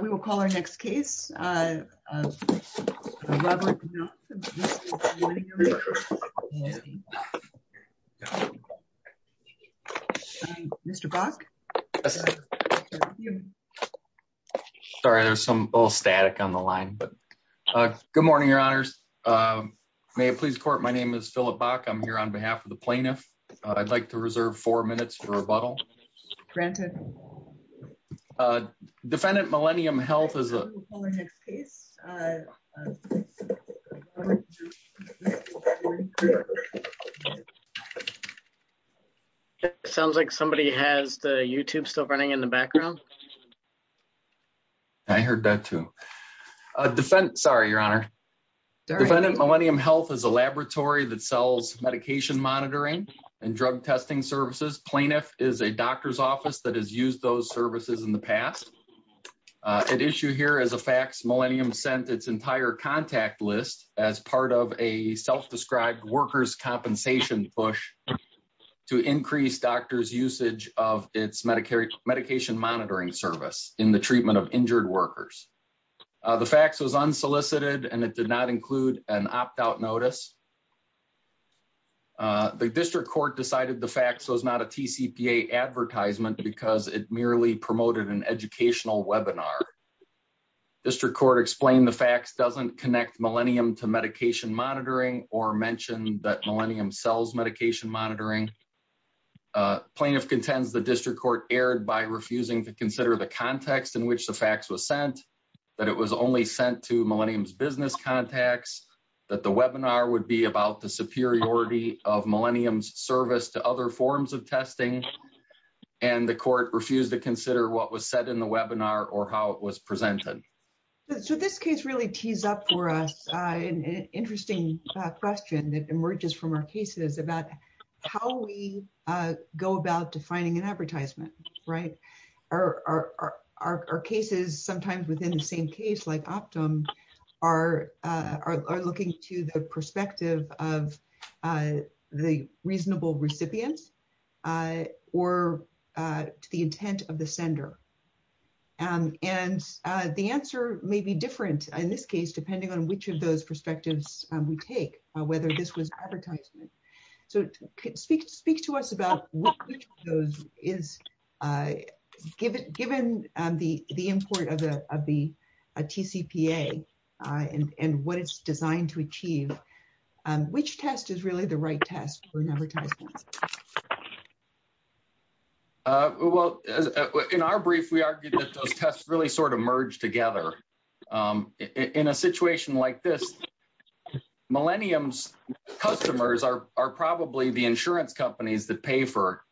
We will call our next case. Sorry, there's some little static on the line. Good morning, your honors. May it please court, my name is Philip Bach. I'm here on behalf of the plaintiff. I'd like to reserve four minutes for rebuttal. Granted. Defendant Millennium Health is a... We will call our next case. Sounds like somebody has the YouTube still running in the background. I heard that too. Sorry, your honor. Defendant Millennium Health is a laboratory that sells medication monitoring and drug testing services. Plaintiff is a doctor's office that has used those services in the past. At issue here is a fax Millennium sent its entire contact list as part of a self-described workers' compensation push to increase doctors' usage of its medication monitoring service in the treatment of injured workers. The fax was unsolicited and it did not The district court decided the fax was not a TCPA advertisement because it merely promoted an educational webinar. District court explained the fax doesn't connect Millennium to medication monitoring or mentioned that Millennium sells medication monitoring. Plaintiff contends the district court erred by refusing to consider the context in which the fax was sent, that it was only sent to Millennium's business contacts, that the webinar would be about the superiority of Millennium's service to other forms of testing, and the court refused to consider what was said in the webinar or how it was presented. So this case really tees up for us an interesting question that emerges from our cases about how we go about defining an advertisement, right? Our cases, sometimes within the same case like Optum, are looking to the perspective of the reasonable recipients or to the intent of the sender. And the answer may be different in this case depending on which of those perspectives we take, whether this was advertisement. So speak to us about which of those is, given the import of the TCPA and what it's designed to achieve, which test is really the right test for an advertisement? Well, in our brief we argued that those tests really sort of merge together. In a situation like this, Millennium's customers are probably the insurance companies that pay for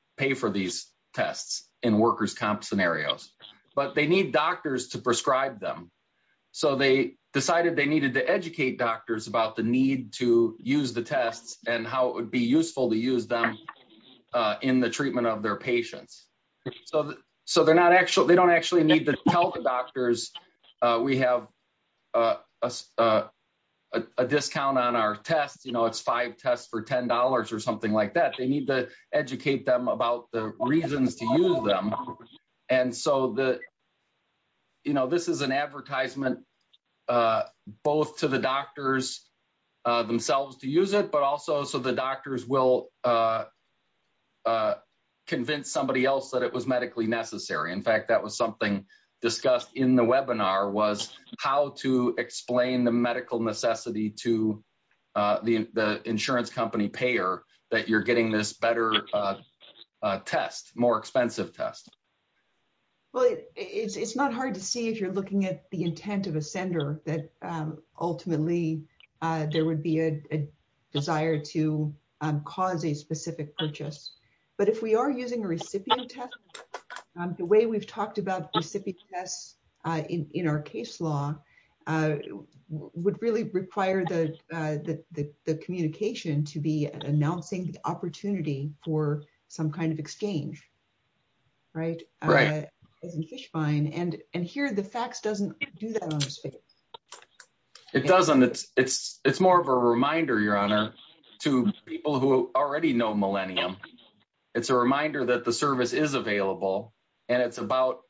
these tests in workers' comp scenarios, but they need doctors to prescribe them. So they decided they needed to educate doctors about the need to use the tests and how it would be useful to use them in the treatment of their patients. So they don't actually need to tell the we have a discount on our tests. It's five tests for $10 or something like that. They need to educate them about the reasons to use them. And so this is an advertisement both to the doctors themselves to use it, but also so the doctors will convince somebody else that it was medically necessary. In fact, that was something discussed in the webinar was how to explain the medical necessity to the insurance company payer that you're getting this better test, more expensive test. Well, it's not hard to see if you're looking at the intent of a sender that ultimately there would be a desire to cause a specific purchase. But if we are using a recipient test, the way we've talked about recipient tests in our case law would really require the communication to be announcing the opportunity for some kind of exchange, right? And here the fax doesn't do that. It doesn't. It's more of a reminder, Your Honor, to people who already know Millennium. It's a reminder that the service is available and it's about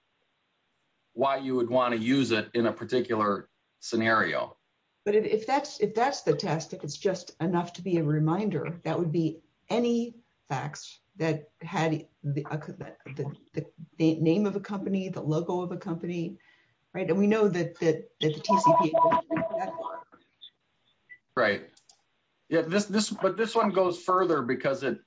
why you would want to use it in a particular scenario. But if that's the test, if it's just enough to be a reminder, that would be any fax that had the name of a company, the logo of a company, right? And we know that the TCP. Right. But this one goes further because it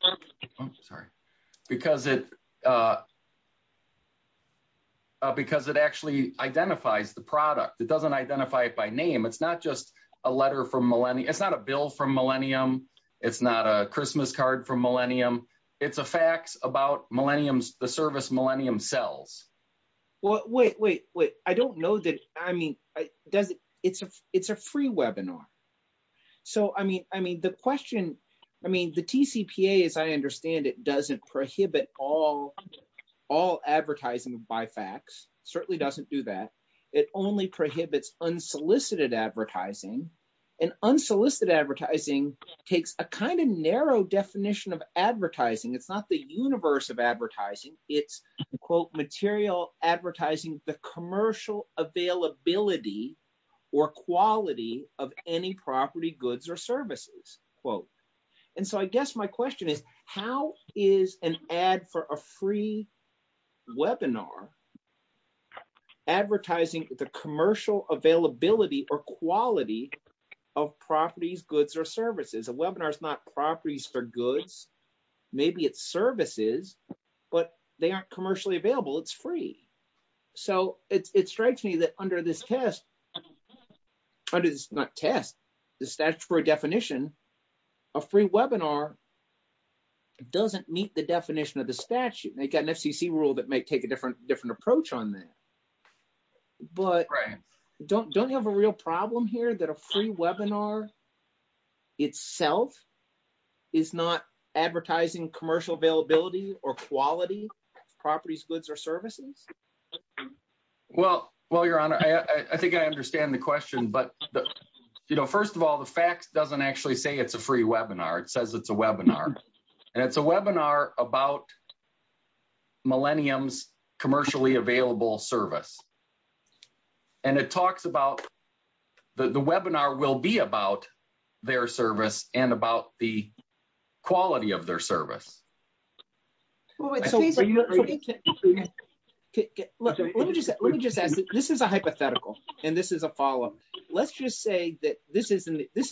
actually identifies the product. It doesn't identify it by name. It's not just a letter from Millennium. It's not a bill from Millennium. It's not a Christmas card from Millennium. It's a fax about the service Millennium sells. Well, wait, wait, wait. I don't know that. I mean, it's a free webinar. So, I mean, the question, I mean, the TCPA, as I understand it, doesn't prohibit all advertising by fax, certainly doesn't do that. It only prohibits unsolicited advertising. And unsolicited advertising takes a kind of narrow definition of advertising. It's not the universe of advertising. It's, quote, material advertising, the commercial availability or quality of any property, goods or services, quote. And so I guess my question is, how is an ad for a free webinar advertising the commercial availability or quality of properties, goods or services? A webinar is not properties for goods. Maybe it's services, but they aren't commercially available. It's free. So, it strikes me that under this test, under this, not test, the statutory definition, a free webinar doesn't meet the definition of the statute. They've got an FCC rule that might take a different approach on that. But don't you have a real problem here that a free webinar itself is not advertising commercial availability or quality of properties, goods or services? Well, your honor, I think I understand the question. But, you know, first of all, the fax doesn't actually say it's a free webinar. It says it's a webinar. And it's a webinar about Millennium's commercially available service. And it talks about the webinar will be about their service and about the quality of their service. This is a hypothetical, and this is a follow-up. Let's just say that this is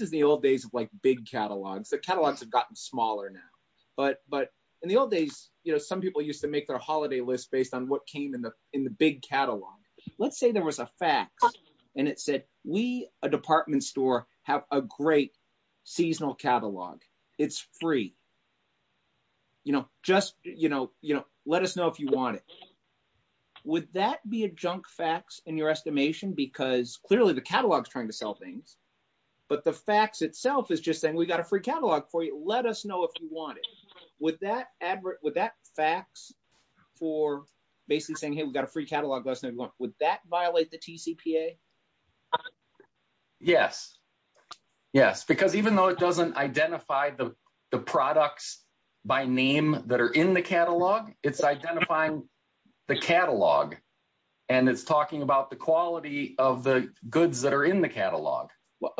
the old days of, like, big catalogs. The catalogs have gotten smaller now. But in the old days, you know, people used to make their holiday list based on what came in the big catalog. Let's say there was a fax and it said, we, a department store, have a great seasonal catalog. It's free. You know, just, you know, let us know if you want it. Would that be a junk fax in your estimation? Because clearly the catalog is trying to sell things. But the fax itself is just saying, got a free catalog for you. Let us know if you want it. Would that fax for basically saying, hey, we've got a free catalog. Would that violate the TCPA? Yes. Yes. Because even though it doesn't identify the products by name that are in the catalog, it's identifying the catalog. And it's talking about the quality of the goods that are in the catalog.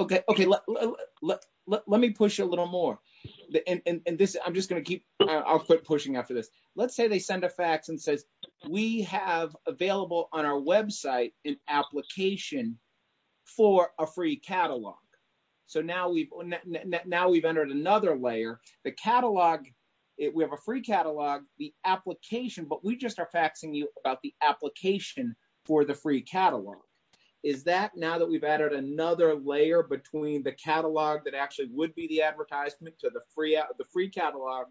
Let's push a little more. And I'm just going to keep, I'll quit pushing after this. Let's say they send a fax and says, we have available on our website an application for a free catalog. So now we've entered another layer. The catalog, we have a free catalog, the application, but we just are faxing you about the application for the free catalog. Is that now we've added another layer between the catalog that actually would be the advertisement to the free catalog,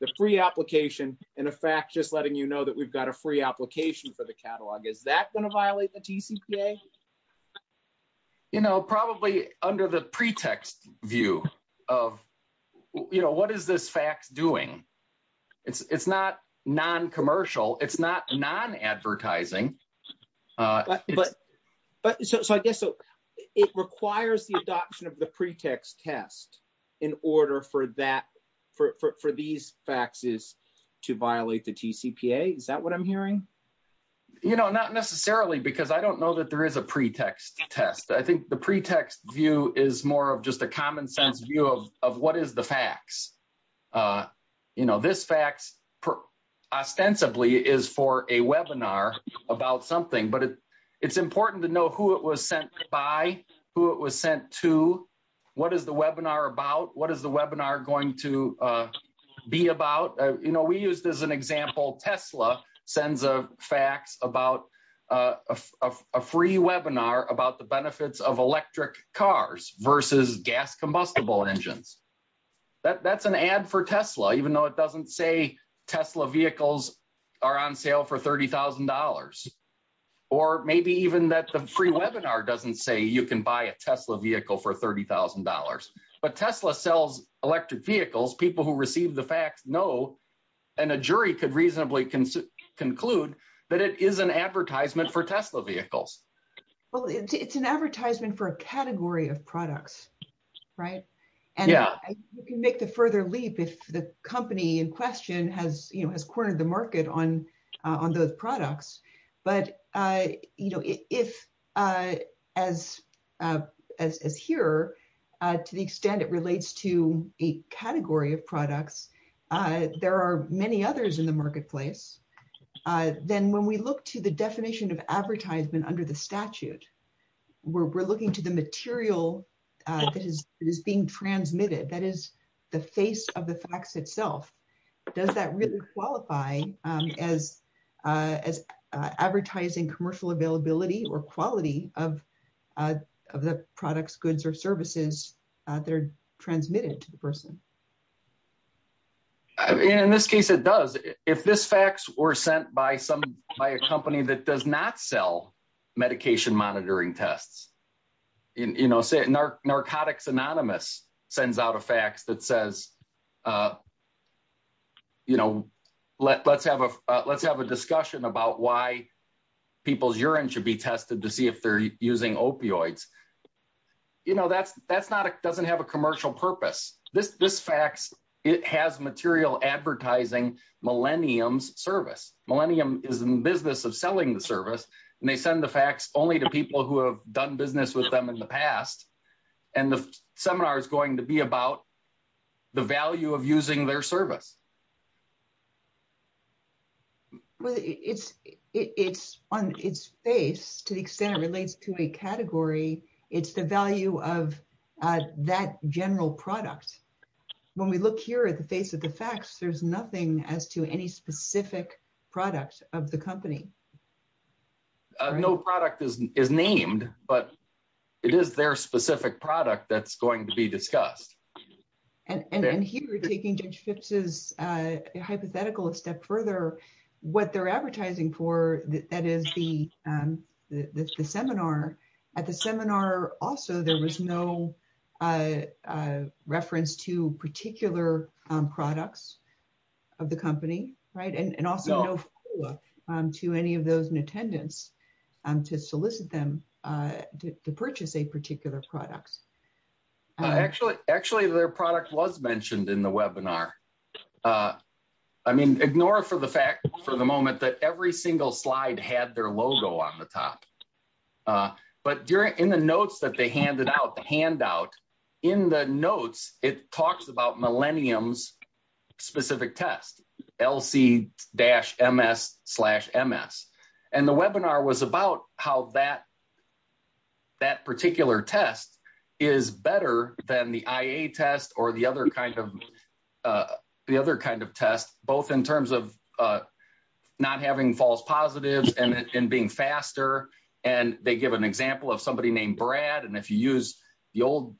the free application, and a fax just letting you know that we've got a free application for the catalog. Is that going to violate the TCPA? Probably under the pretext view of what is this fax doing? It's not non-commercial. It's not non-advertising. But so I guess, so it requires the adoption of the pretext test in order for that, for these faxes to violate the TCPA. Is that what I'm hearing? You know, not necessarily because I don't know that there is a pretext test. I think the pretext view is more of just a common sense view of what is the fax. You know, this fax ostensibly is for a webinar about something, but it's important to know who it was sent by, who it was sent to, what is the webinar about, what is the webinar going to be about. You know, we use this as an example. Tesla sends a fax about a free webinar about the that's an ad for Tesla, even though it doesn't say Tesla vehicles are on sale for $30,000. Or maybe even that the free webinar doesn't say you can buy a Tesla vehicle for $30,000. But Tesla sells electric vehicles. People who receive the fax know, and a jury could reasonably conclude, that it is an advertisement for Tesla vehicles. Well, it's an advertisement for a vehicle. You can make the further leap if the company in question has, you know, has cornered the market on those products. But, you know, if as here, to the extent it relates to a category of products, there are many others in the marketplace. Then when we look to the definition of advertisement under the statute, we're looking to the material that is being transmitted. That is the face of the fax itself. Does that really qualify as advertising commercial availability or quality of the products, goods, or services that are transmitted to the person? In this case, it does. If this fax were sent by a company that does not sell medication monitoring tests, you know, say Narcotics Anonymous sends out a fax that says, you know, let's have a discussion about why people's urine should be tested to see if they're using opioids. You know, that doesn't have a commercial purpose. This fax, it has material advertising Millennium's service. Millennium is in the business of selling the service, and they send the fax only to people who have done business with them in the past, and the seminar is going to be about the value of using their service. Well, it's on its face, to the extent it relates to a category, it's the value of that general product. When we look here at the face of the fax, there's nothing as to any specific product of the company. No product is named, but it is their specific product that's going to be discussed. And here, taking Judge Phipps's hypothetical a step further, what they're advertising for, that is the seminar. At the seminar, also, there was no reference to particular products of the company, right? And also, to any of those in attendance, to solicit them to purchase a particular product. Actually, their product was mentioned in the webinar. I mean, ignore for the fact for the moment that every single slide had their logo on the top. But in the notes that they handed out, the handout, in the notes, it talks about Millennium's specific test, LC-MS-MS. And the webinar was about how that particular test is better than the IA test or the other kind of test, both in terms of not having false positives and being faster. And they give an example of somebody named Brad. And if you use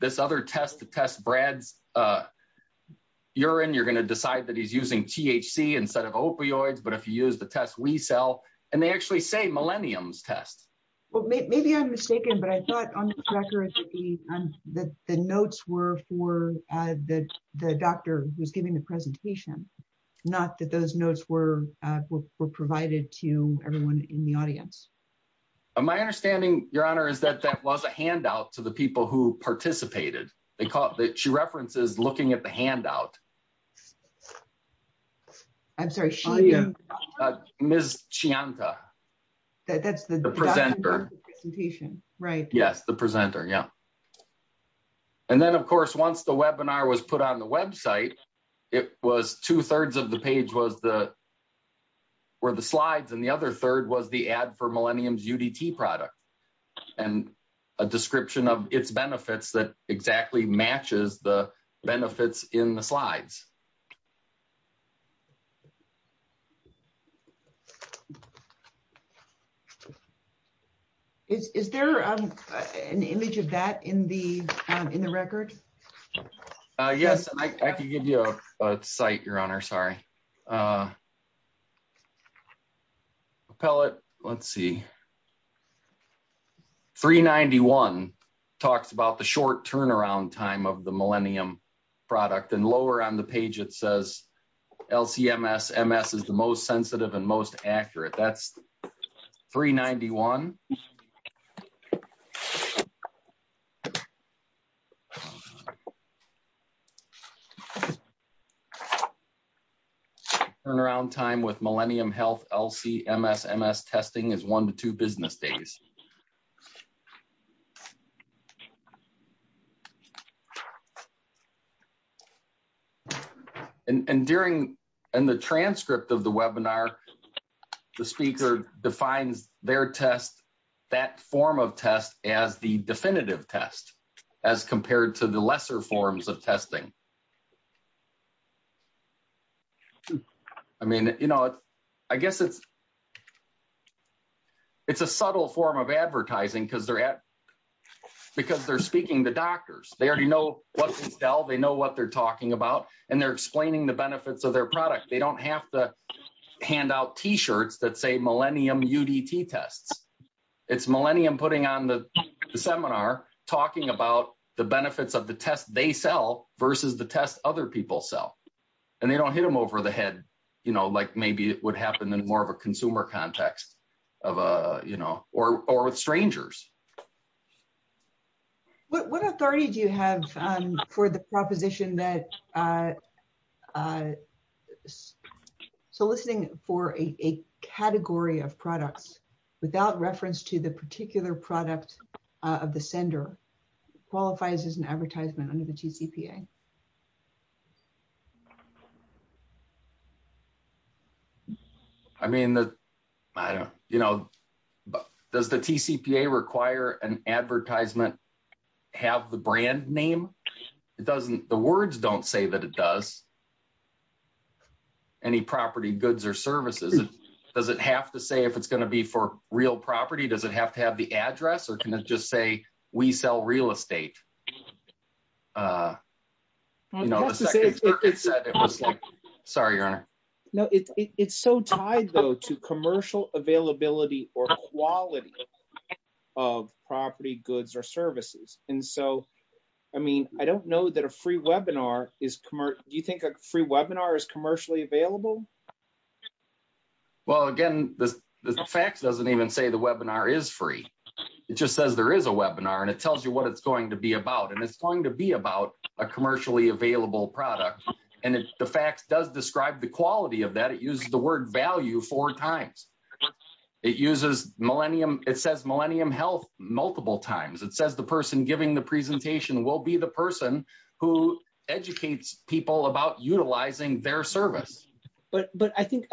this other test to test Brad's urine, you're going to decide that he's using THC instead of opioids. But if you use the test we sell, and they actually say Millennium's test. Well, maybe I'm mistaken, but I thought on the record that the notes were for the doctor who was giving the presentation, not that those notes were provided to everyone in the audience. My understanding, Your Honor, is that that was a handout to the people who participated. She references looking at the handout. I'm sorry. Ms. Chianta. That's the doctor. The presenter. Yes, the presenter, yeah. And then, of course, once the webinar was put on the website, two-thirds of the page were the slides, and the other third was the ad for Millennium's UDT product and a description of its benefits that exactly matches the benefits in the slides. Is there an image of that in the record? Yes, I can give you a site, Your Honor. Sorry. Pellet. Let's see. 391 talks about the short turnaround time of the Millennium product. And lower on the page, it says LC-MS. MS is the most sensitive and most accurate. That's 391. Turnaround time with Millennium Health LC-MS. MS testing is one to two business days. And in the transcript of the webinar, the speaker defines their test, that form of test, as the definitive test as compared to the lesser forms of testing. I mean, you know, I guess it's a subtle form of advertising because they're speaking to doctors. They already know what they sell. They know what they're talking about. And they're explaining the benefits of their product. They don't have to hand out T-shirts that say Millennium UDT tests. It's Millennium putting on the seminar talking about the benefits of the test they sell versus the test other people sell. And they don't hit them over the head, you know, like maybe it would happen in more of a consumer context of, you know, or with strangers. What authority do you have for the proposition that soliciting for a category of products without reference to the particular product of the sender qualifies as an advertisement under the TCPA? I mean, I don't, you know, does the TCPA require an advertisement have the brand name? It doesn't, the words don't say that it does. Any property goods or services? Does it have to say if it's going to be for real property? Does it have to have the address? Or can it just say, we sell real estate? Sorry, your honor. No, it's so tied, though, to commercial availability or quality of property goods or services. And so, I mean, I don't know that a free webinar is commercial. Do you think a free webinar is commercially available? Well, again, the fax doesn't even say the webinar is free. It just says there is a webinar and it tells you what it's going to be about. And it's going to be about a commercially available product. And the fax does describe the quality of that. It uses the word value four times. It uses millennium, it says millennium health multiple times. It says the person giving the presentation will be the person who educates people about utilizing their service. But I think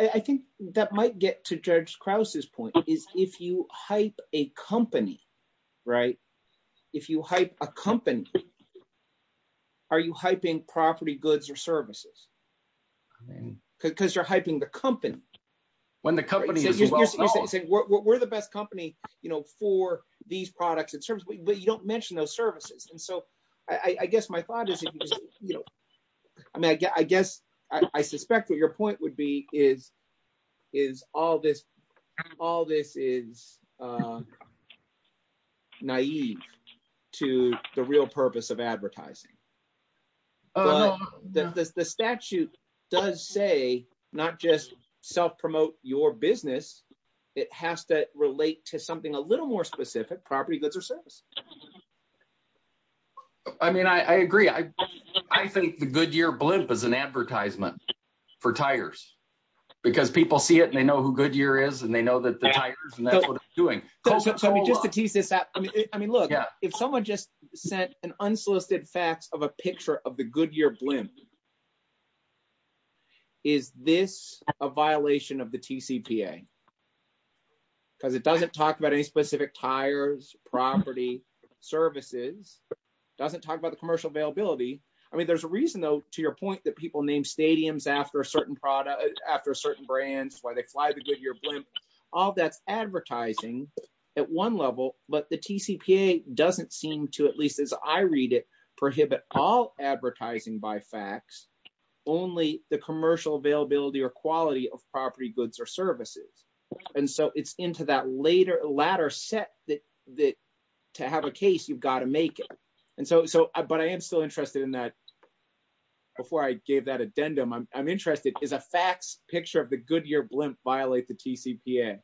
that might get to Judge Krause's point, is if you hype a company, right? If you hype a company, are you hyping property goods or services? Because you're hyping the company. When the company says, we're the best company, you know, for these products and services, but you don't mention those services. And so, I guess my thought is, you know, I mean, I guess I suspect what your point would be is all this is naive to the real purpose of advertising. But the statute does say not just self-promote your business, it has to relate to something a little more specific, property goods or services. I mean, I agree. I think the Goodyear blimp is an advertisement for tires, because people see it and they know who Goodyear is, and they know that the tires and that's what they're doing. So just to tease this out, I mean, look, if someone just sent an unsolicited fax of a picture of the Goodyear blimp, is this a violation of the TCPA? Because it doesn't talk any specific tires, property, services, doesn't talk about the commercial availability. I mean, there's a reason though, to your point that people name stadiums after a certain product, after certain brands, why they fly the Goodyear blimp. All that's advertising at one level, but the TCPA doesn't seem to, at least as I read it, prohibit all advertising by fax, only the commercial availability or quality of property goods or services. And so it's into that latter set that to have a case, you've got to make it. But I am still interested in that. Before I gave that addendum, I'm interested, is a fax picture of the Goodyear blimp violate the TCPA?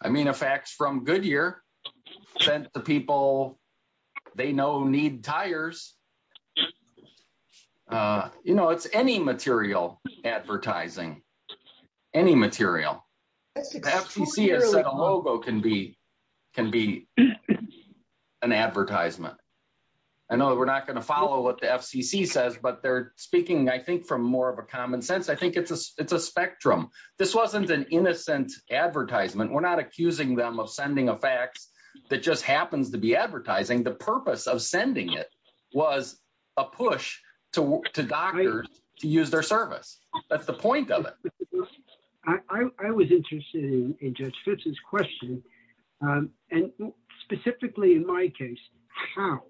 I mean, a fax from Goodyear sent to people they know need tires. Yeah. You know, it's any material advertising, any material. The FCC has said a logo can be an advertisement. I know we're not going to follow what the FCC says, but they're speaking, I think, from more of a common sense. I think it's a spectrum. This wasn't an innocent advertisement. We're not accusing them of sending a fax that just happens to be advertising. The purpose of sending it was a push to doctors to use their service. That's the point of it. I was interested in Judge Phipps's question, and specifically in my case, how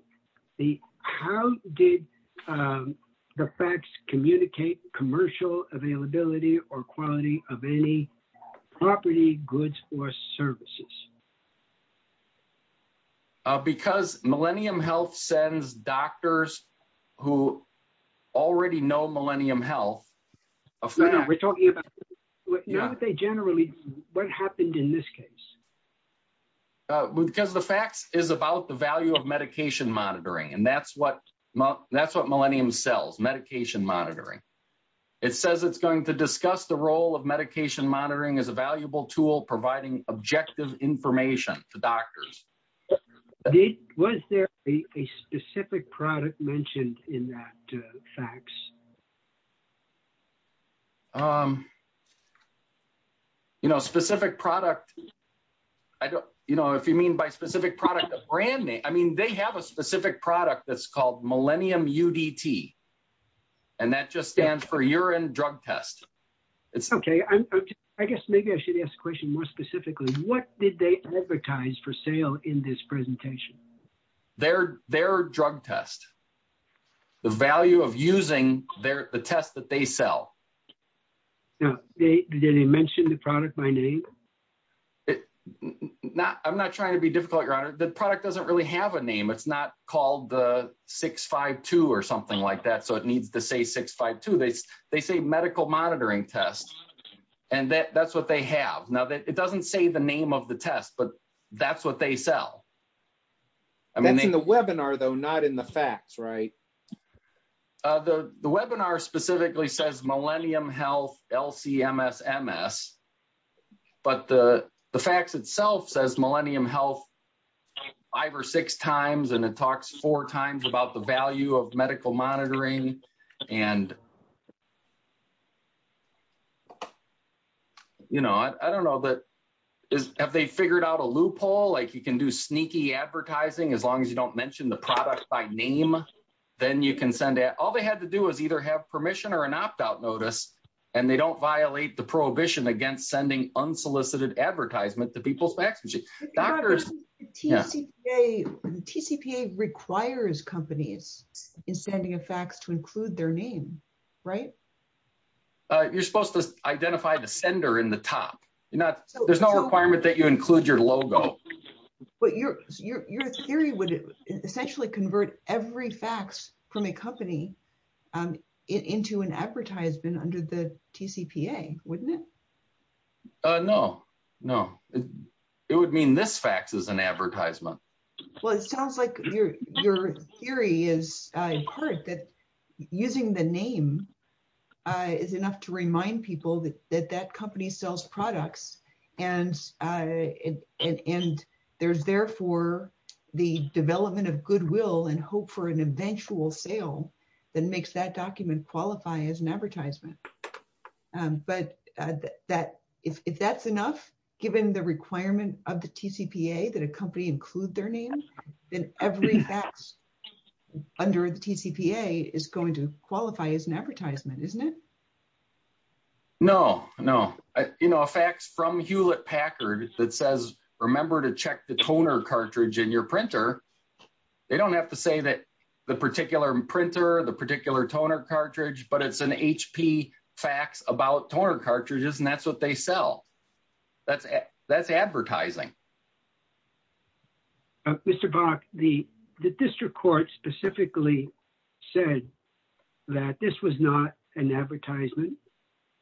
did the fax communicate commercial availability or quality of any property, goods, or services? Because Millennium Health sends doctors who already know Millennium Health. We're talking about what they generally, what happened in this case? Because the fax is about the value of medication monitoring, and that's what Millennium sells, medication monitoring. It says it's going to discuss the role of medication monitoring as a valuable tool providing objective information to doctors. Was there a specific product mentioned in that fax? You know, a specific product, if you mean by specific product, a brand name. I mean, they have a specific product that's called Millennium UDT, and that just stands for urine drug test. Okay. I guess maybe I should ask a question more specifically. What did they advertise for sale in this presentation? Their drug test, the value of using the test that they sell. Now, did they mention the product by name? No, I'm not trying to be difficult, Your Honor. The product doesn't really have a name. It's not called the 652 or something like that, so it needs to say 652. They say medical monitoring test, and that's what they have. Now, it doesn't say the name of the test, but that's what they sell. That's in the webinar, though, not in the fax, right? The webinar specifically says Millennium Health LC-MS-MS, but the fax itself says Millennium Health five or six times, and it talks four times about the value of medical monitoring, and you know, I don't know, but have they figured out a loophole? Like you can do that. All they had to do was either have permission or an opt-out notice, and they don't violate the prohibition against sending unsolicited advertisement to people's fax machines. The TCPA requires companies in sending a fax to include their name, right? You're supposed to identify the sender in the top. There's no requirement that you include your logo. But your theory would essentially convert every fax from a company into an advertisement under the TCPA, wouldn't it? No, no. It would mean this fax is an advertisement. Well, it sounds like your theory is in part that using the name is enough to remind people that that company sells products, and there's therefore the development of goodwill and hope for an eventual sale that makes that document qualify as an advertisement. But if that's enough, given the requirement of the TCPA that a company include their name, then every fax under the TCPA is going to qualify as an advertisement, isn't it? No, no. You know, a fax from Hewlett Packard that says, remember to check the toner cartridge in your printer, they don't have to say that the particular printer, the particular toner cartridge, but it's an HP fax about toner cartridges, and that's what they sell. That's advertising. Mr. Bach, the district court specifically said that this was not an advertisement.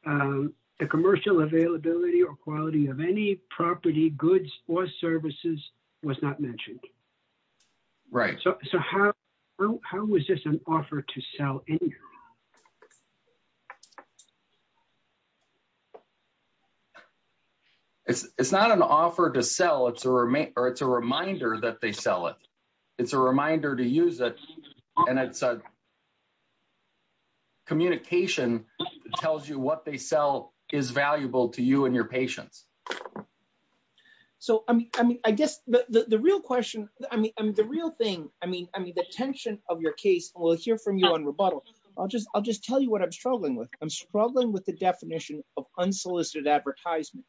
The commercial availability or quality of any property, goods, or services was not mentioned. Right. So how was this an offer to sell? It's not an offer to sell, it's a reminder that they sell it. It's a reminder to use it, and it's a communication that tells you what they sell is valuable to you and your patients. So, I mean, I guess the real question, I mean, the real thing, I mean, I mean, the tension of your case, and we'll hear from you on rebuttal, I'll just tell you what I'm struggling with. I'm struggling with the definition of unsolicited advertisement,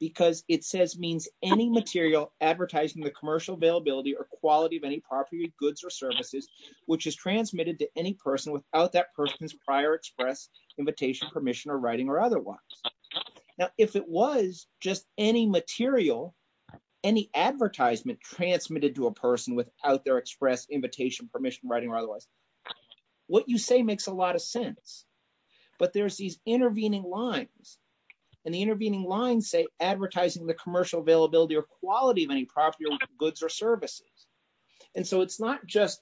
because it says, means any material advertising the commercial availability or quality of any property, goods, or services, which is transmitted to any person without that person's prior express invitation, permission, or writing, or otherwise. Now, if it was just any material, any advertisement transmitted to a person without their express invitation, permission, writing, or otherwise, what you say makes a lot of sense. But there's these intervening lines, and the intervening lines say advertising the commercial availability or quality of any property, goods, or services. And so it's not just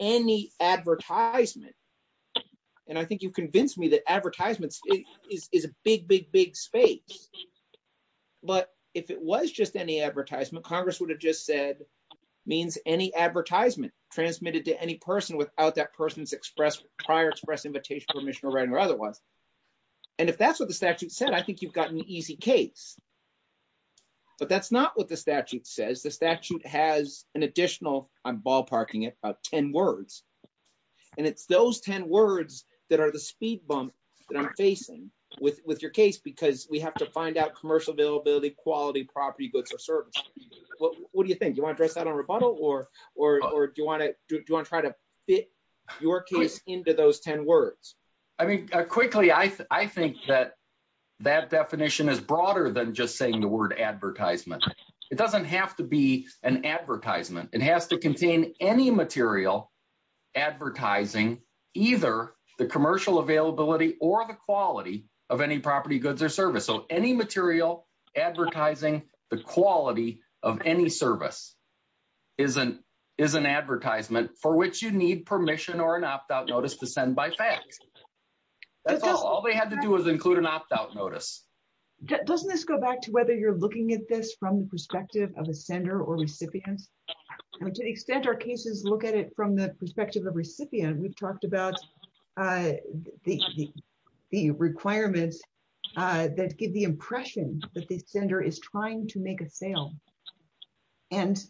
any advertisement. And I think you've convinced me that advertisements is a big, big, big space. But if it was just any advertisement, Congress would have just said, means any advertisement transmitted to any person without that person's prior express invitation, permission, or writing, or otherwise. And if that's what the statute said, I think you've got an easy case. But that's not what the statute says. The statute has an facing with your case, because we have to find out commercial availability, quality, property, goods, or services. What do you think? Do you want to address that on rebuttal, or do you want to try to fit your case into those 10 words? I mean, quickly, I think that that definition is broader than just saying the word advertisement. It doesn't have to be an advertisement. It has to contain any material advertising either the commercial availability or the quality of any property, goods, or service. So any material advertising the quality of any service is an advertisement for which you need permission or an opt-out notice to send by fax. That's all. All they had to do was include an opt-out notice. Doesn't this go back to whether you're looking at this from the from the perspective of a recipient? We've talked about the requirements that give the impression that the sender is trying to make a sale. And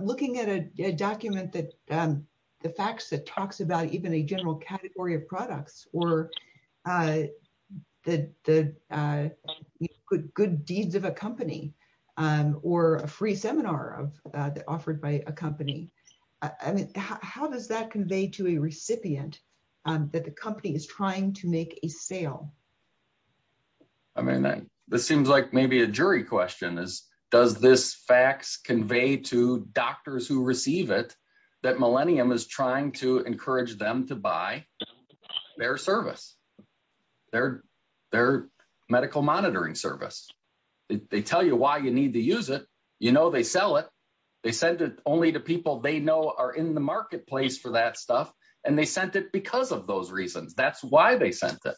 looking at a document that the fax that talks about even a general category of products, or the good deeds of a company, or a free seminar offered by a company, I mean, how does that convey to a recipient that the company is trying to make a sale? I mean, this seems like maybe a jury question is does this fax convey to doctors who receive it that Millennium is trying to encourage them to buy their service, their medical monitoring service? They tell you why you need to use it, you know they sell it, they send it only to people they know are in the marketplace for that stuff, and they sent it because of those reasons. That's why they sent it.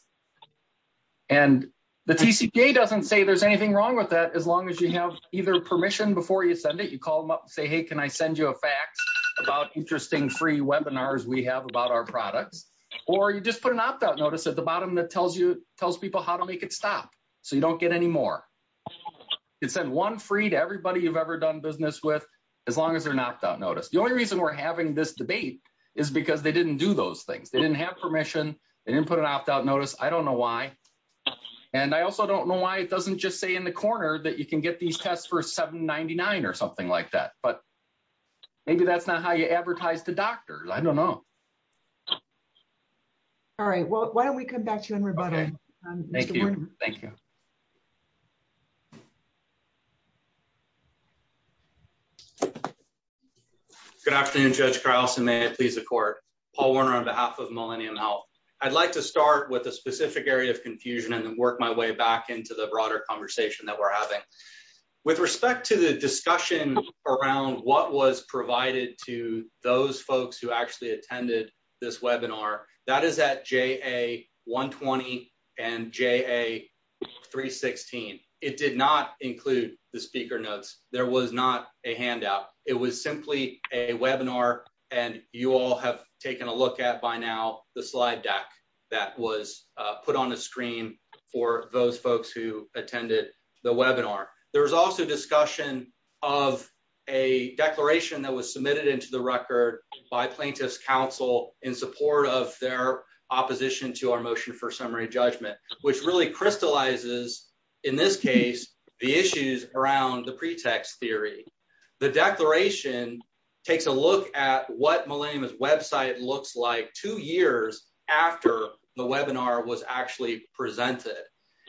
And the TCPA doesn't say there's anything wrong with that as long as you have either permission before you send it, you call them up and say, hey, can I send you a fax about interesting free webinars we have about our bottom that tells people how to make it stop so you don't get any more. You can send one free to everybody you've ever done business with as long as they're not on notice. The only reason we're having this debate is because they didn't do those things. They didn't have permission, they didn't put an opt-out notice, I don't know why. And I also don't know why it doesn't just say in the corner that you can get these tests for $7.99 or something like that. But maybe that's how you advertise to doctors, I don't know. All right, well, why don't we come back to you and rebuttal. Thank you. Good afternoon, Judge Carlson, may it please the court. Paul Warner on behalf of Millennium Health. I'd like to start with a specific area of confusion and then work my way back into the broader conversation that we're having. With respect to the discussion around what was provided to those folks who actually attended this webinar, that is at JA 120 and JA 316. It did not include the speaker notes, there was not a handout. It was simply a webinar and you all have taken a look at by now the slide deck that was put on the screen for those folks who attended the webinar. There was also discussion of a declaration that was submitted into the record by plaintiff's counsel in support of their opposition to our motion for summary judgment, which really crystallizes, in this case, the issues around the pretext theory. The declaration takes a look at what Millennium's website looks like two years after the webinar was presented.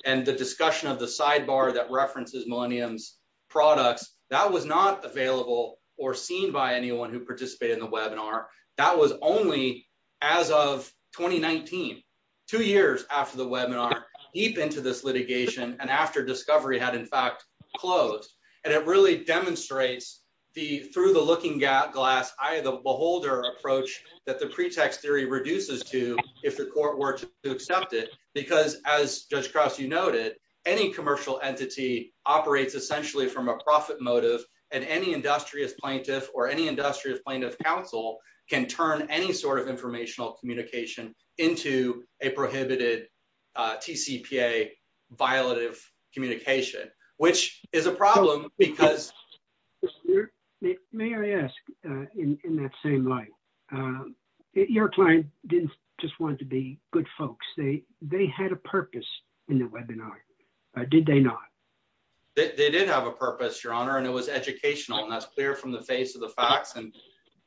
The discussion of the sidebar that references Millennium's products, that was not available or seen by anyone who participated in the webinar. That was only as of 2019, two years after the webinar, deep into this litigation and after discovery had in fact closed. It really demonstrates the through the looking glass eye of the beholder approach that the pretext theory reduces to if the court were to accept it. Because as Judge Krause, you noted, any commercial entity operates essentially from a profit motive and any industrious plaintiff or any industrious plaintiff counsel can turn any sort of informational communication into a prohibited TCPA violative communication, which is a problem because... Your client didn't just want it to be good folks. They had a purpose in the webinar. Did they not? They did have a purpose, Your Honor, and it was educational. And that's clear from the face of the facts. And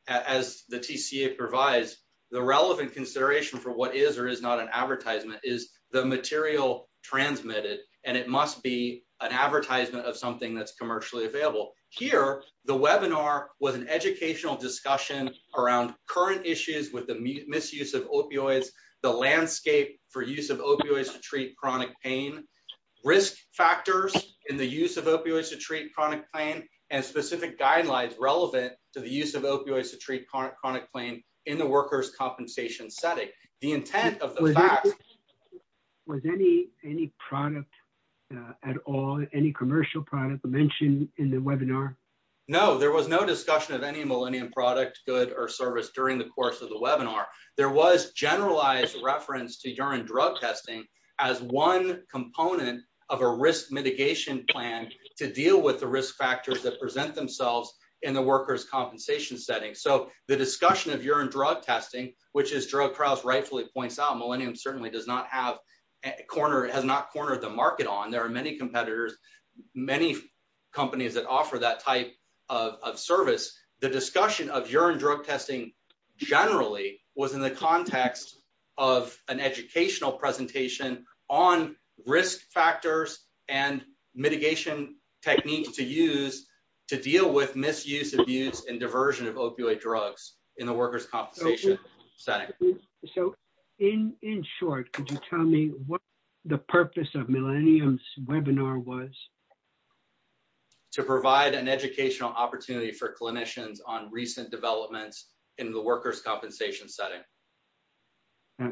as the TCA provides, the relevant consideration for what is or is not an advertisement is the material transmitted. And it must be an advertisement of something that's commercially available. Here, the webinar was an educational discussion around current issues with the misuse of opioids, the landscape for use of opioids to treat chronic pain, risk factors in the use of opioids to treat chronic pain, and specific guidelines relevant to the use of opioids to treat chronic pain in the workers' compensation setting. The intent of the fact... Was any product at all, any commercial product mentioned in the webinar? No, there was no discussion of any Millennium product, good, or service during the course of the webinar. There was generalized reference to urine drug testing as one component of a risk mitigation plan to deal with the risk factors that present themselves in the workers' compensation setting. So the discussion of urine drug testing, which as Gerald Krauss rightfully points out, has not cornered the market on. There are many competitors, many companies that offer that type of service. The discussion of urine drug testing generally was in the context of an educational presentation on risk factors and mitigation techniques to use to deal with misuse, abuse, and diversion of opioid drugs in the workers' compensation setting. So in short, could you tell me what the purpose of Millennium's webinar was? To provide an educational opportunity for clinicians on recent developments in the workers' compensation setting.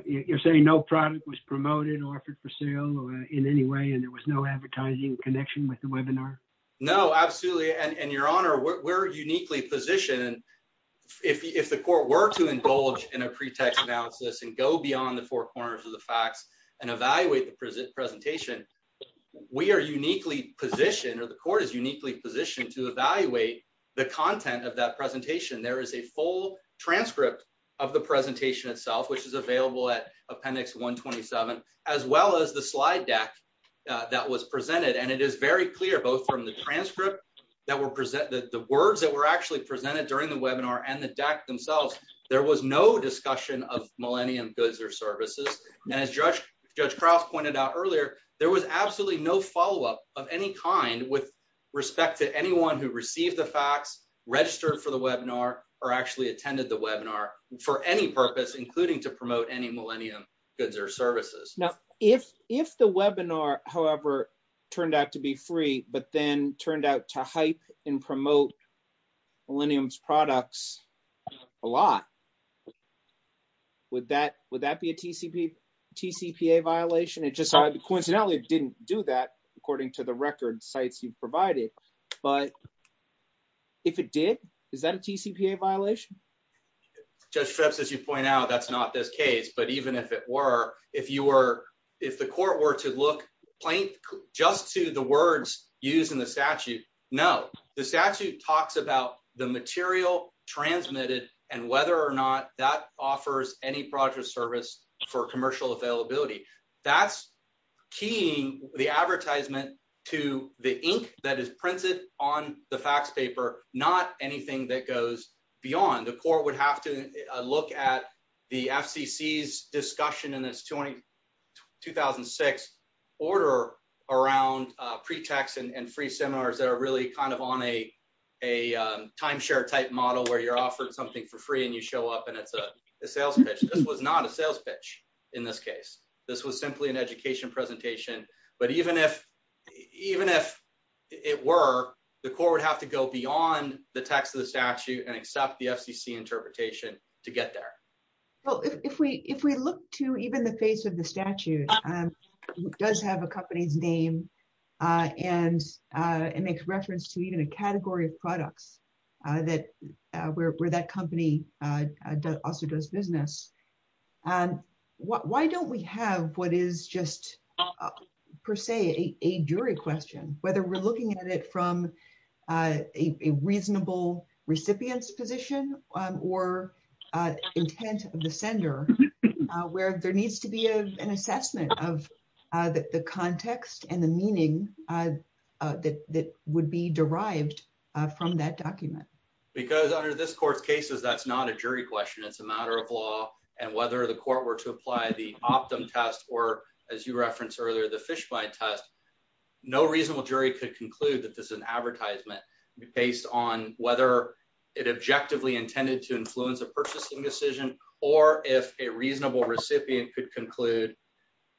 You're saying no product was promoted, offered for sale in any way, and there was no advertising connection with the webinar? No, absolutely. And your honor, we're uniquely positioned, if the court were to go beyond the four corners of the facts and evaluate the presentation, we are uniquely positioned, or the court is uniquely positioned to evaluate the content of that presentation. There is a full transcript of the presentation itself, which is available at appendix 127, as well as the slide deck that was presented. And it is very clear, both from the transcript, the words that were actually presented during the webinar, and the deck themselves, there was no discussion of Millennium goods or services. And as Judge Krause pointed out earlier, there was absolutely no follow-up of any kind with respect to anyone who received the facts, registered for the webinar, or actually attended the webinar for any purpose, including to promote any Millennium goods or services. Now, if the webinar, however, turned out to be free, but then turned out to hype and promote Millennium's products a lot, would that be a TCPA violation? Coincidentally, it didn't do that, according to the record sites you provided. But if it did, is that a TCPA violation? Judge Streps, as you point out, that's not this case. But even if it were, if the court were to point just to the words used in the statute, no. The statute talks about the material transmitted, and whether or not that offers any product or service for commercial availability. That's keying the advertisement to the ink that is printed on the facts paper, not anything that goes order around pretext and free seminars that are really kind of on a timeshare type model where you're offered something for free and you show up and it's a sales pitch. This was not a sales pitch in this case. This was simply an education presentation. But even if it were, the court would have to go beyond the text of the statute and accept the FCC interpretation to get there. Well, if we look to even the face of the statute, it does have a company's name, and it makes reference to even a category of products that where that company also does business. Why don't we have what is just per se a jury question, whether we're looking at it from a reasonable recipient's position or intent of the sender, where there needs to be an assessment of the context and the meaning that would be derived from that document? Because under this court's cases, that's not a jury question. It's a matter of law. And whether the court were to apply the Optum test or, as you referenced earlier, the Fishby test, no reasonable jury could conclude that this is an advertisement based on whether it could conclude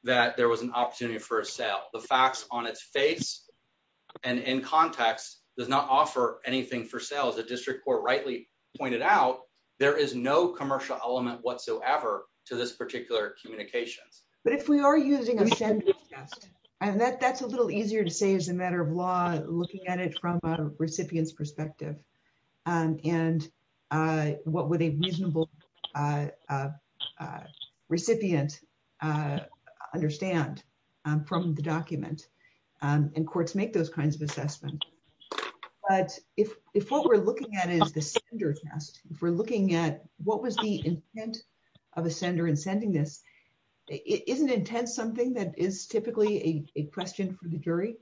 that there was an opportunity for a sale. The fax on its face and in context does not offer anything for sale. As the district court rightly pointed out, there is no commercial element whatsoever to this particular communications. But if we are using a sender's test, and that's a little easier to say as a matter of law, looking at it from a recipient's perspective, and what would a reasonable recipient understand from the document, and courts make those kinds of assessments. But if what we're looking at is the sender test, if we're looking at what was the intent of a sender in sending this, isn't intent something that is typically a question for the jury?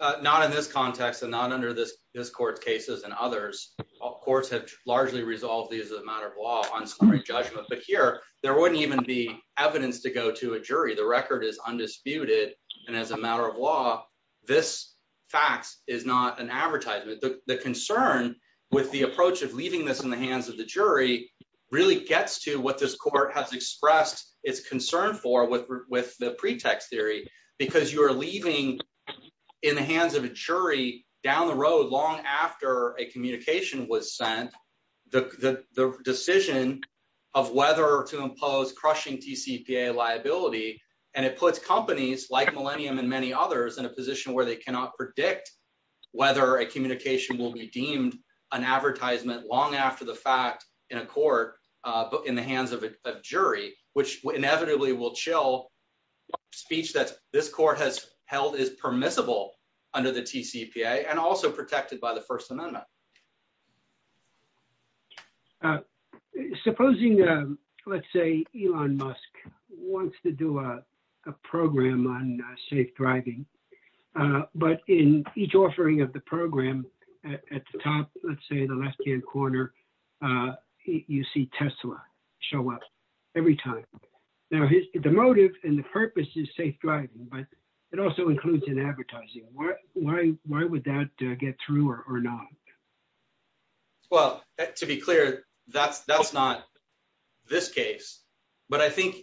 Uh, not in this context and not under this court's cases and others. Courts have largely resolved these as a matter of law on summary judgment. But here, there wouldn't even be evidence to go to a jury. The record is undisputed. And as a matter of law, this fax is not an advertisement. The concern with the approach of leaving this in the hands of the jury really gets to what this court has expressed its concern for with the pretext theory, because you are leaving in the hands of a jury down the road long after a communication was sent, the decision of whether to impose crushing TCPA liability. And it puts companies like Millennium and many others in a position where they cannot predict whether a communication will be deemed an advertisement long after the fact in a court, but in the hands of a jury, which inevitably will chill speech that this court has held is permissible under the TCPA and also protected by the First Amendment. Uh, supposing, um, let's say Elon Musk wants to do a program on safe driving. Uh, but in each offering of the program at the top, let's say the left hand corner, uh, you see Tesla show up every time. Now the motive and the purpose is safe driving, but it also includes an advertising. Why, why, why would that get through or not? Well, to be clear, that's, that's not this case, but I think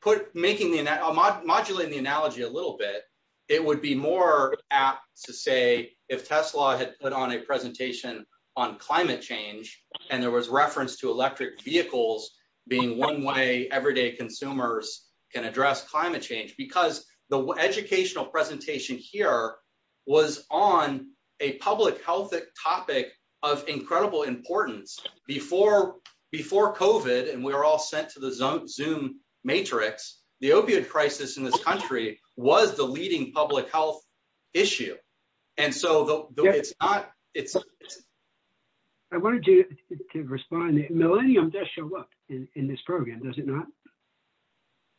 put making the mod modulating the climate change. And there was reference to electric vehicles being one way everyday consumers can address climate change because the educational presentation here was on a public health topic of incredible importance before, before COVID. And we were all sent to the zone zoom matrix. The opioid crisis in this country was the leading public health issue. And so it's not, it's I wanted you to respond. Millennium does show up in this program. Does it not?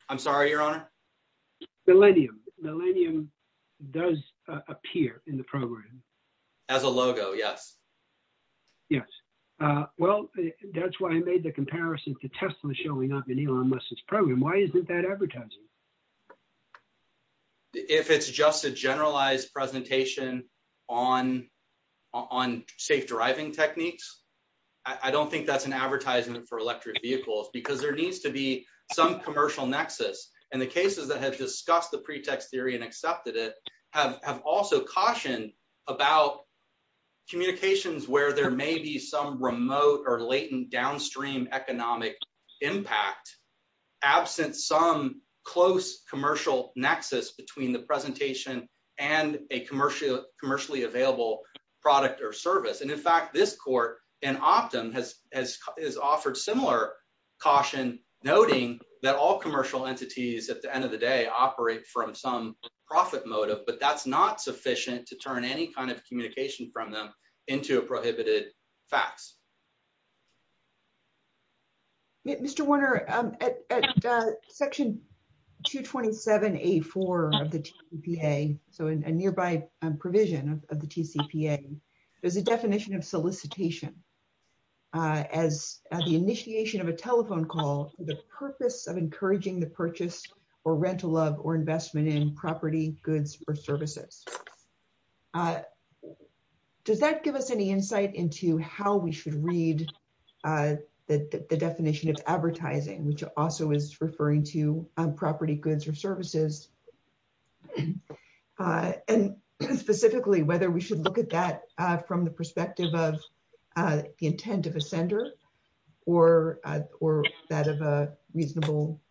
I'm sorry, your honor. Millennium. Millennium does appear in the program as a logo. Yes. Yes. Uh, well, that's why I made the comparison to Tesla showing up in Elon Musk's program. Why it's just a generalized presentation on, on safe driving techniques. I don't think that's an advertisement for electric vehicles because there needs to be some commercial nexus and the cases that have discussed the pretext theory and accepted it have, have also cautioned about communications where there may be some remote or latent downstream economic impact, absent some close commercial nexus between the presentation and a commercial commercially available product or service. And in fact, this court and Optum has, has, has offered similar caution noting that all commercial entities at the end of the day operate from some profit motive, but that's not sufficient to turn any kind of communication from them into a prohibited facts. Mr. Warner, um, at, at, uh, section 227, a four of the TPA. So in a nearby provision of the TCPA, there's a definition of solicitation, uh, as the initiation of a telephone call, the purpose of encouraging the purchase or rental of, or investment in services. Uh, does that give us any insight into how we should read, uh, the definition of advertising, which also is referring to property goods or services, uh, and specifically whether we should look at that, uh, from the perspective of, uh, the intent of a sender or, or that of a reasonable,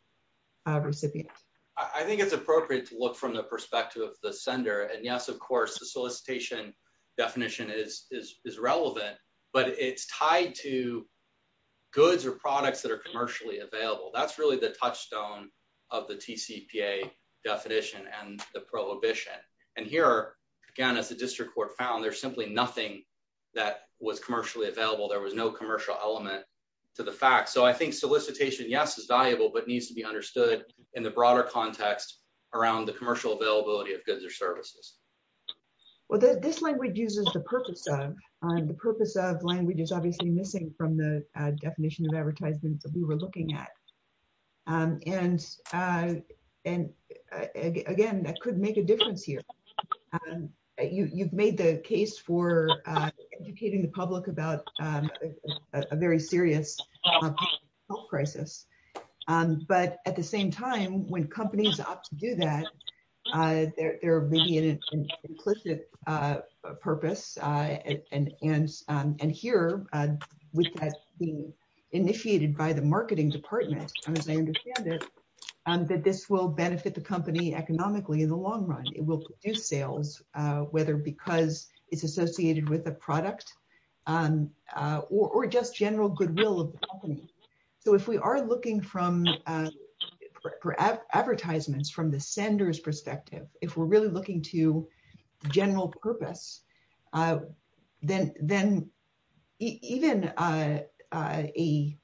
uh, recipient. I think it's appropriate to look from the perspective of the sender. And yes, of course, the solicitation definition is, is, is relevant, but it's tied to goods or products that are commercially available. That's really the touchstone of the TCPA definition and the prohibition. And here again, as the district court found, there's simply nothing that was commercially available. There was no commercial element to the fact. So I think solicitation yes, is valuable, but needs to be understood in the broader context around the commercial availability of goods or services. Well, this language uses the purpose of, um, the purpose of language is obviously missing from the definition of advertisements that we were looking at. Um, and, uh, and again, that could make a difference here. Um, you, you've made the case for, uh, educating the public about, um, a very serious health crisis. Um, but at the same time, when companies opt to do that, uh, there, there may be an implicit, uh, purpose, uh, and, and, um, and here, uh, which has been initiated by the marketing department. And as I understand it, um, that this will benefit the company economically in the long run, it will produce sales, uh, whether because it's associated with a product, um, uh, or, or just general goodwill of the company. So if we are looking from, uh, for advertisements from the sender's perspective, if we're really looking to general purpose, uh, then, then even, uh, uh, a,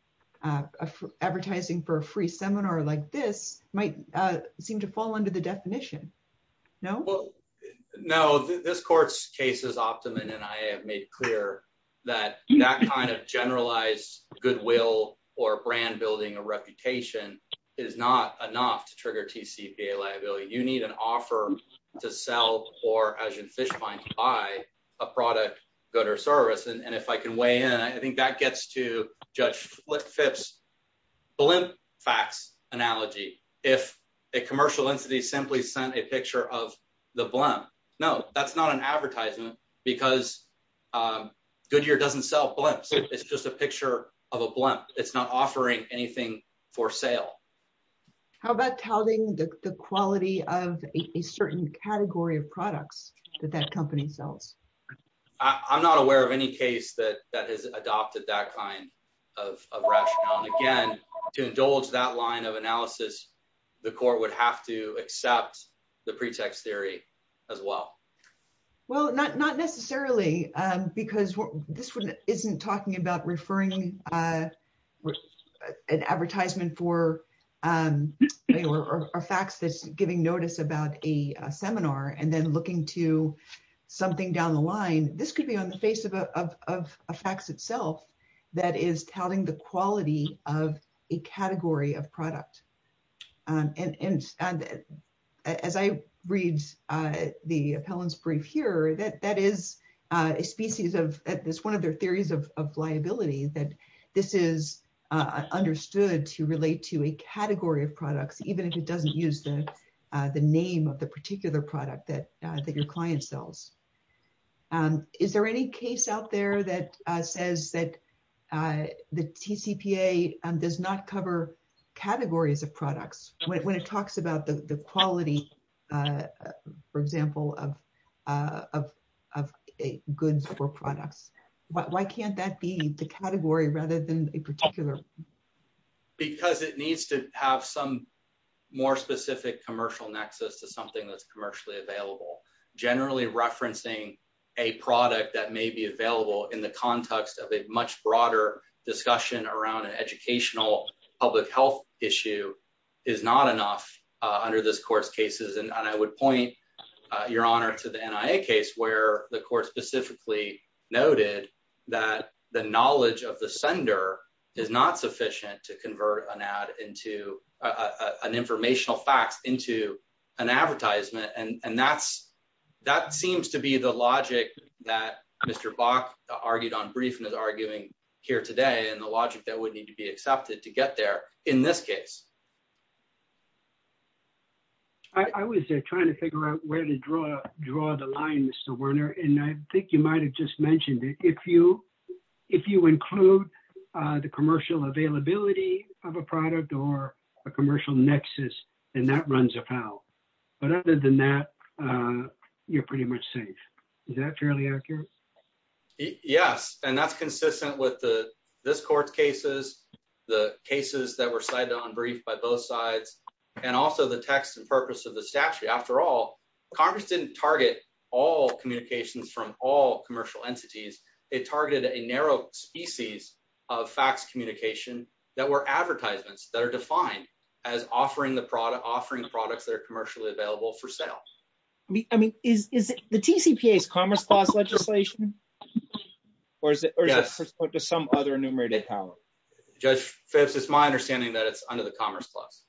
uh, uh, advertising for a free seminar like this might, uh, seem to fall under the definition. No, no, this court's case is optimum. And I have made clear that that kind of generalized goodwill or brand building a reputation is not enough to trigger TCPA liability. You need an offer to sell or as in fish find, buy a product, go to a service. And if I can weigh in, I think that gets to judge flip FIPS, the limp facts analogy. If a commercial entity simply sent a picture of the blunt, no, that's not an advertisement because, um, Goodyear doesn't sell blunts. It's just a picture of a blunt. It's not offering anything for sale. How about touting the quality of a certain category of products that that company sells? I'm not aware of any that, that has adopted that kind of rationale. And again, to indulge that line of analysis, the court would have to accept the pretext theory as well. Well, not, not necessarily, um, because this one isn't talking about referring, uh, an advertisement for, um, or facts that's giving notice about a seminar and then looking to something down the line. This could be on the face of a, of, of a fax itself that is touting the quality of a category of product. Um, and, and, and as I read, uh, the appellant's brief here, that, that is, uh, a species of this, one of their theories of, of liability, that this is, uh, understood to relate to a category of products, even if it doesn't use the, uh, the name of the particular product that, uh, that your client sells. Um, is there any case out there that, uh, says that, uh, the TCPA, um, does not cover categories of products when it, when it talks about the, the quality, uh, for example, of, uh, of, of a goods or products. Why can't that be the category rather than a particular. Because it needs to have some more specific commercial nexus to something that's commercially available, generally referencing a product that may be available in the context of a much broader discussion around an educational public health issue is not enough, uh, under this course cases. And I would point your honor to the NIA case where the court specifically noted that the knowledge of the sender is not sufficient to convert an ad into a, uh, an informational facts into an advertisement. And that's, that seems to be the logic that Mr. Bach argued on brief and is arguing here today. And the logic that would need to be accepted to get there in this case. I was trying to figure out where to draw, draw the line, Mr. Werner. And I think you might've just mentioned it. If you, if you include, uh, the commercial availability of a product or a commercial nexus, and that runs a foul, but other than that, uh, you're pretty much safe. Is that fairly accurate? Yes. And that's consistent with the, this court cases, the cases that were cited on brief by both sides and also the text and purpose of the statute. After all Congress didn't target all communications from all commercial entities, it targeted a narrow species of facts, communication that were advertisements that are defined as offering the product, offering the products that are commercially available for sale. I mean, is, is the TCPA is commerce clause legislation or is it, or is it just some other enumerated power? Judge Phipps, it's my understanding that it's under the commerce clause.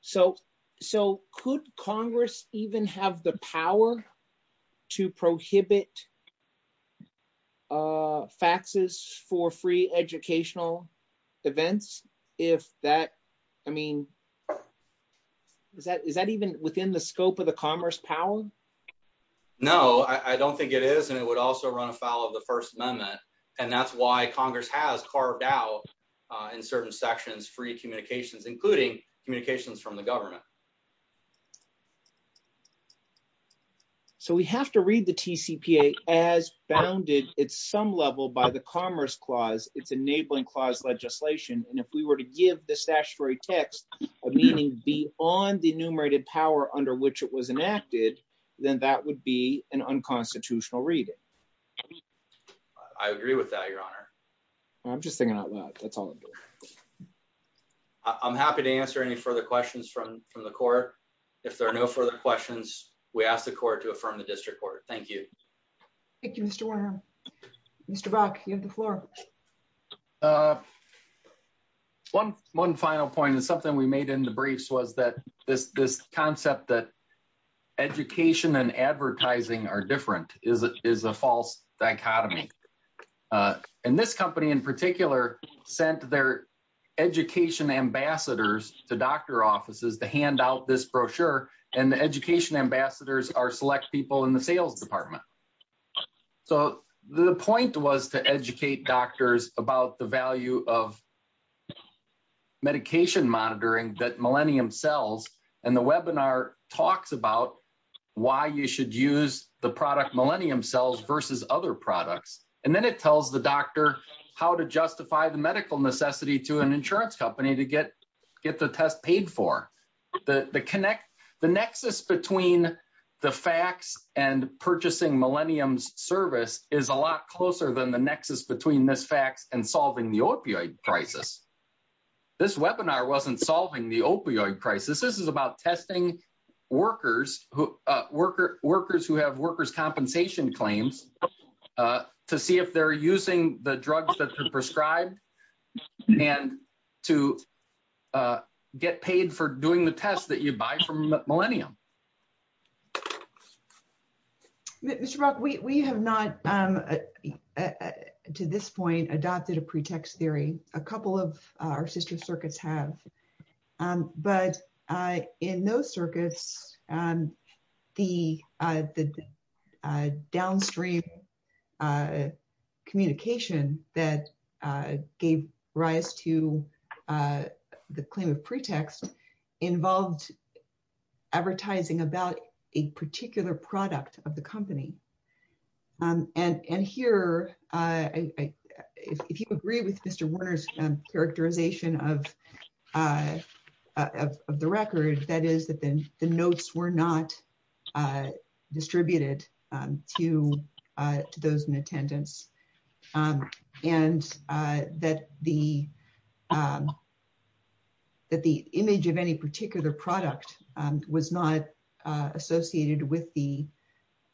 So, so could Congress even have the power to prohibit, uh, faxes for free educational events? If that, I mean, is that, is that even within the scope of the commerce power? No, I don't think it is. And it would also run a foul of the first amendment. And that's why Congress has carved out, uh, in certain sections, free communications, including communications from the government. So we have to read the TCPA as bounded. It's some level by the commerce clause, it's enabling clause legislation. And if we were to give the statutory text of meaning be on the enumerated power under which it was enacted, then that would be an unconstitutional reading. I agree with that, your honor. I'm just thinking out loud. That's all I'm doing. I'm happy to answer any further questions from, from the court. If there are no further questions, we ask the court to affirm the district court. Thank you. Thank you, Mr. Warner. Mr. Brock, you have the floor. Uh, one, one final point is something we made in the briefs was that this, this concept that education and advertising are different is, is a false dichotomy. Uh, and this company in particular sent their education ambassadors to doctor offices to hand out this brochure and the education ambassadors are select people in the sales department. So the point was to educate doctors about the value of medication monitoring that talks about why you should use the product millennium cells versus other products. And then it tells the doctor how to justify the medical necessity to an insurance company to get, get the test paid for the connect. The nexus between the facts and purchasing millennials service is a lot closer than the nexus between this facts and solving the opioid crisis. This webinar wasn't solving the opioid crisis. This is about testing workers who, uh, worker workers who have workers compensation claims, uh, to see if they're using the drugs that they're prescribed and to, uh, get paid for doing the tests that you buy from millennium. Okay. Mr. Brock, we, we have not, um, uh, to this point adopted a pretext theory, a couple of our sister circuits have, um, but, uh, in those circuits, um, the, uh, the, uh, downstream, uh, communication that, uh, gave rise to, uh, the claim of pretext involved advertising about a particular product of the company. Um, and, and here, uh, if you agree with Mr. Werner's characterization of, uh, uh, of, of the record, that is that the notes were not, uh, distributed, um, to, uh, to those in attendance, um, and, uh, that the, um, that the image of any particular product, um, was not, uh, associated with the,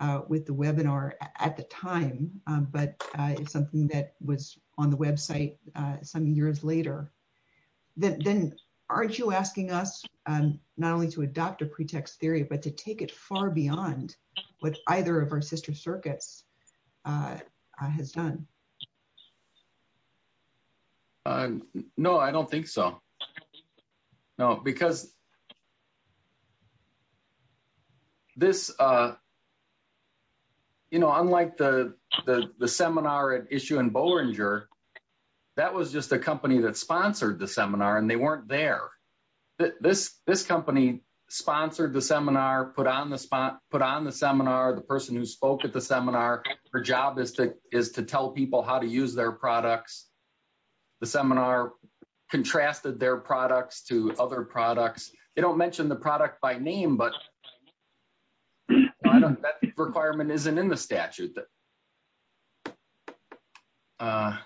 uh, with the webinar at the time. Um, but, uh, if something that was on the website, uh, some years later, then, then aren't you asking us, um, not only to adopt a pretext theory, but to take it far beyond what either of our sister circuits, uh, uh, has done? Um, no, I don't think so. No, because this, uh, you know, unlike the, the, the seminar at issue in Bollinger, that was just a company that sponsored the seminar and they weren't there. This, this company sponsored the seminar, put on the spot, put on the seminar. The person who spoke at the seminar, her job is to, is to tell people how to use their products. The seminar contrasted their products to other products. They don't mention the product by name, but requirement isn't in the statute that, uh,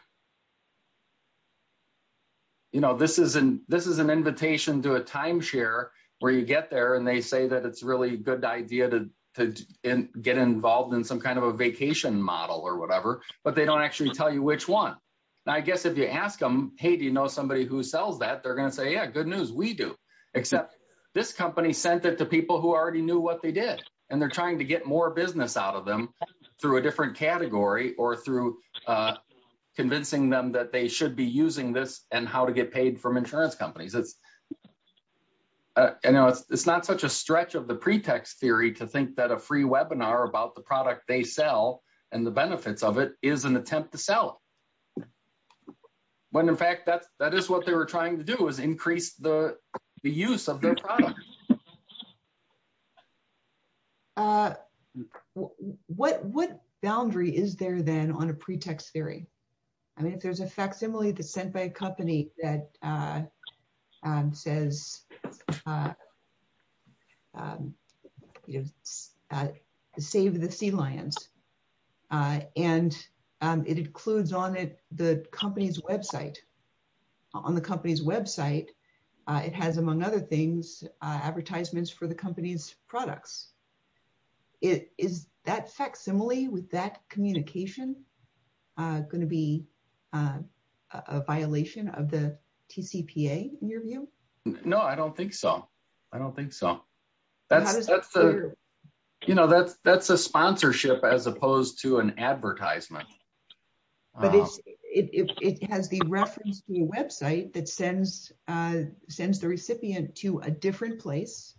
you know, this is an, this is an invitation to a timeshare where you get there and they say that it's really a good idea to, to get involved in some kind of a vacation model or whatever, but they don't actually tell you which one. Now, I guess if you ask them, Hey, do you know somebody who sells that? They're going to say, yeah, good news. We do accept this company, sent it to people who already knew what they did. And they're trying to get more business out of them through a different category or through, uh, convincing them that they should be using this and how to get paid from insurance companies. It's, uh, I know it's, it's not such a stretch of the pretext theory to think that a free webinar about the product they sell and the benefits of it is an attempt to sell when in fact that's, that is what they were trying to do is increase the use of their product. Uh, what, what boundary is there then on a pretext theory? I mean, if there's a facsimile that's sent by a company that, uh, um, says, uh, um, uh, save the sea lions, uh, and, um, it includes on it, the company's website on the company's website. Uh, it has among other things, uh, advertisements for the company's products. It is that facsimile with that communication, uh, going to be, uh, a violation of the TCPA in your view? No, I don't think so. I don't think so. That's, that's the, you know, that's, that's a sponsorship as opposed to an advertisement. But it's, it, it has the reference to a website that sends, uh, sends the recipient to a different place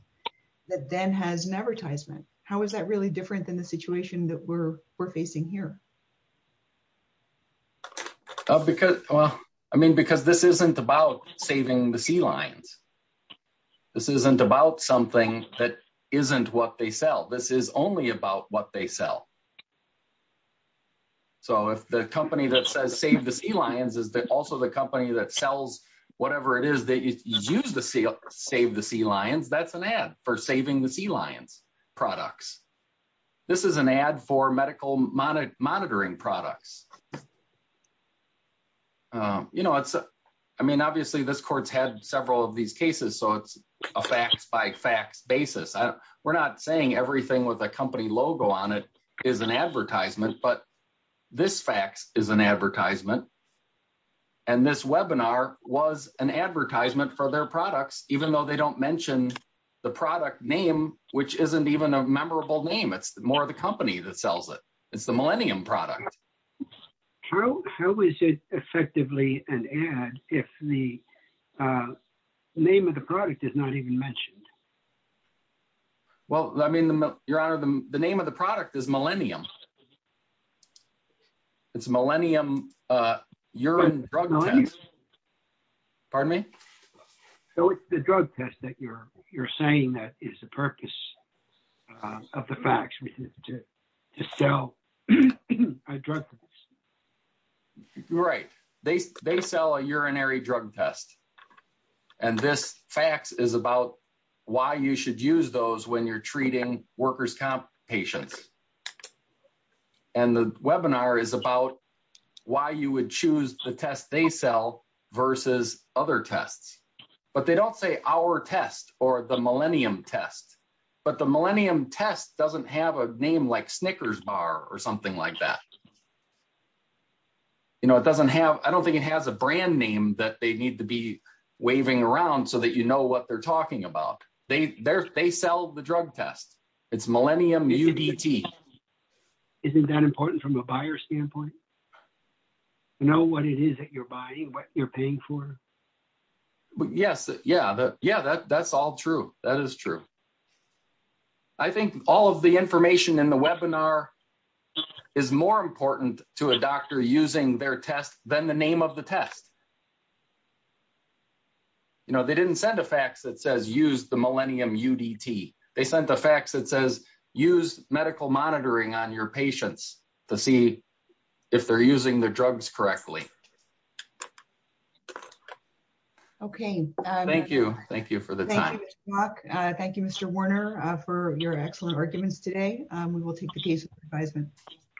that then has an advertisement. How is that really different than the situation that we're, we're facing here? Uh, because, well, I mean, because this isn't about saving the sea lions. This isn't about something that isn't what they sell. This is only about what they sell. So if the company that says save the sea lions is also the company that sells whatever it is, they use the sea, save the sea lions, that's an ad for saving the sea lions products. This is an ad for medical monitoring products. Um, you know, it's, I mean, obviously this court's had several of these cases, so it's a facts by facts basis. We're not saying everything with a company logo on it is an advertisement, but this facts is an advertisement. And this webinar was an advertisement for their products, even though they don't mention the product name, which isn't even a memorable name. It's more of the company that sells it. It's the millennium product. How is it effectively an ad if the, uh, name of the product is not even mentioned? Well, I mean, your Honor, the name of the product is millennium. It's millennium, uh, urine drug test. Pardon me? So it's the drug test that you're, you're saying that is the purpose of the facts to sell a drug? Right. They, they sell a urinary drug test. And this facts is about why you should use those when you're treating workers comp patients. And the webinar is about why you would choose the test they sell versus other tests, but they don't say our test or the millennium test, but the millennium test doesn't have a name like Snickers bar or something like that. You know, it doesn't have, I don't think it has a brand name that they need to be waving around so that you know what they're talking about. They, they're, they sell the drug test. It's millennium UDT. Isn't that important from a buyer standpoint? You know what it is that you're buying, what you're paying for? Yes. Yeah. Yeah. That's all true. That is true. I think all of the information in the webinar is more important to a doctor using their test than the name of the test. You know, they didn't send a fax that says use the millennium UDT. They sent a fax that says use medical monitoring on your patients to see if they're using the drugs correctly. Okay. Thank you. Thank you for the time. Thank you, Mr. Warner for your excellent arguments today. We will take the case of advisement.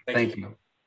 Thank you.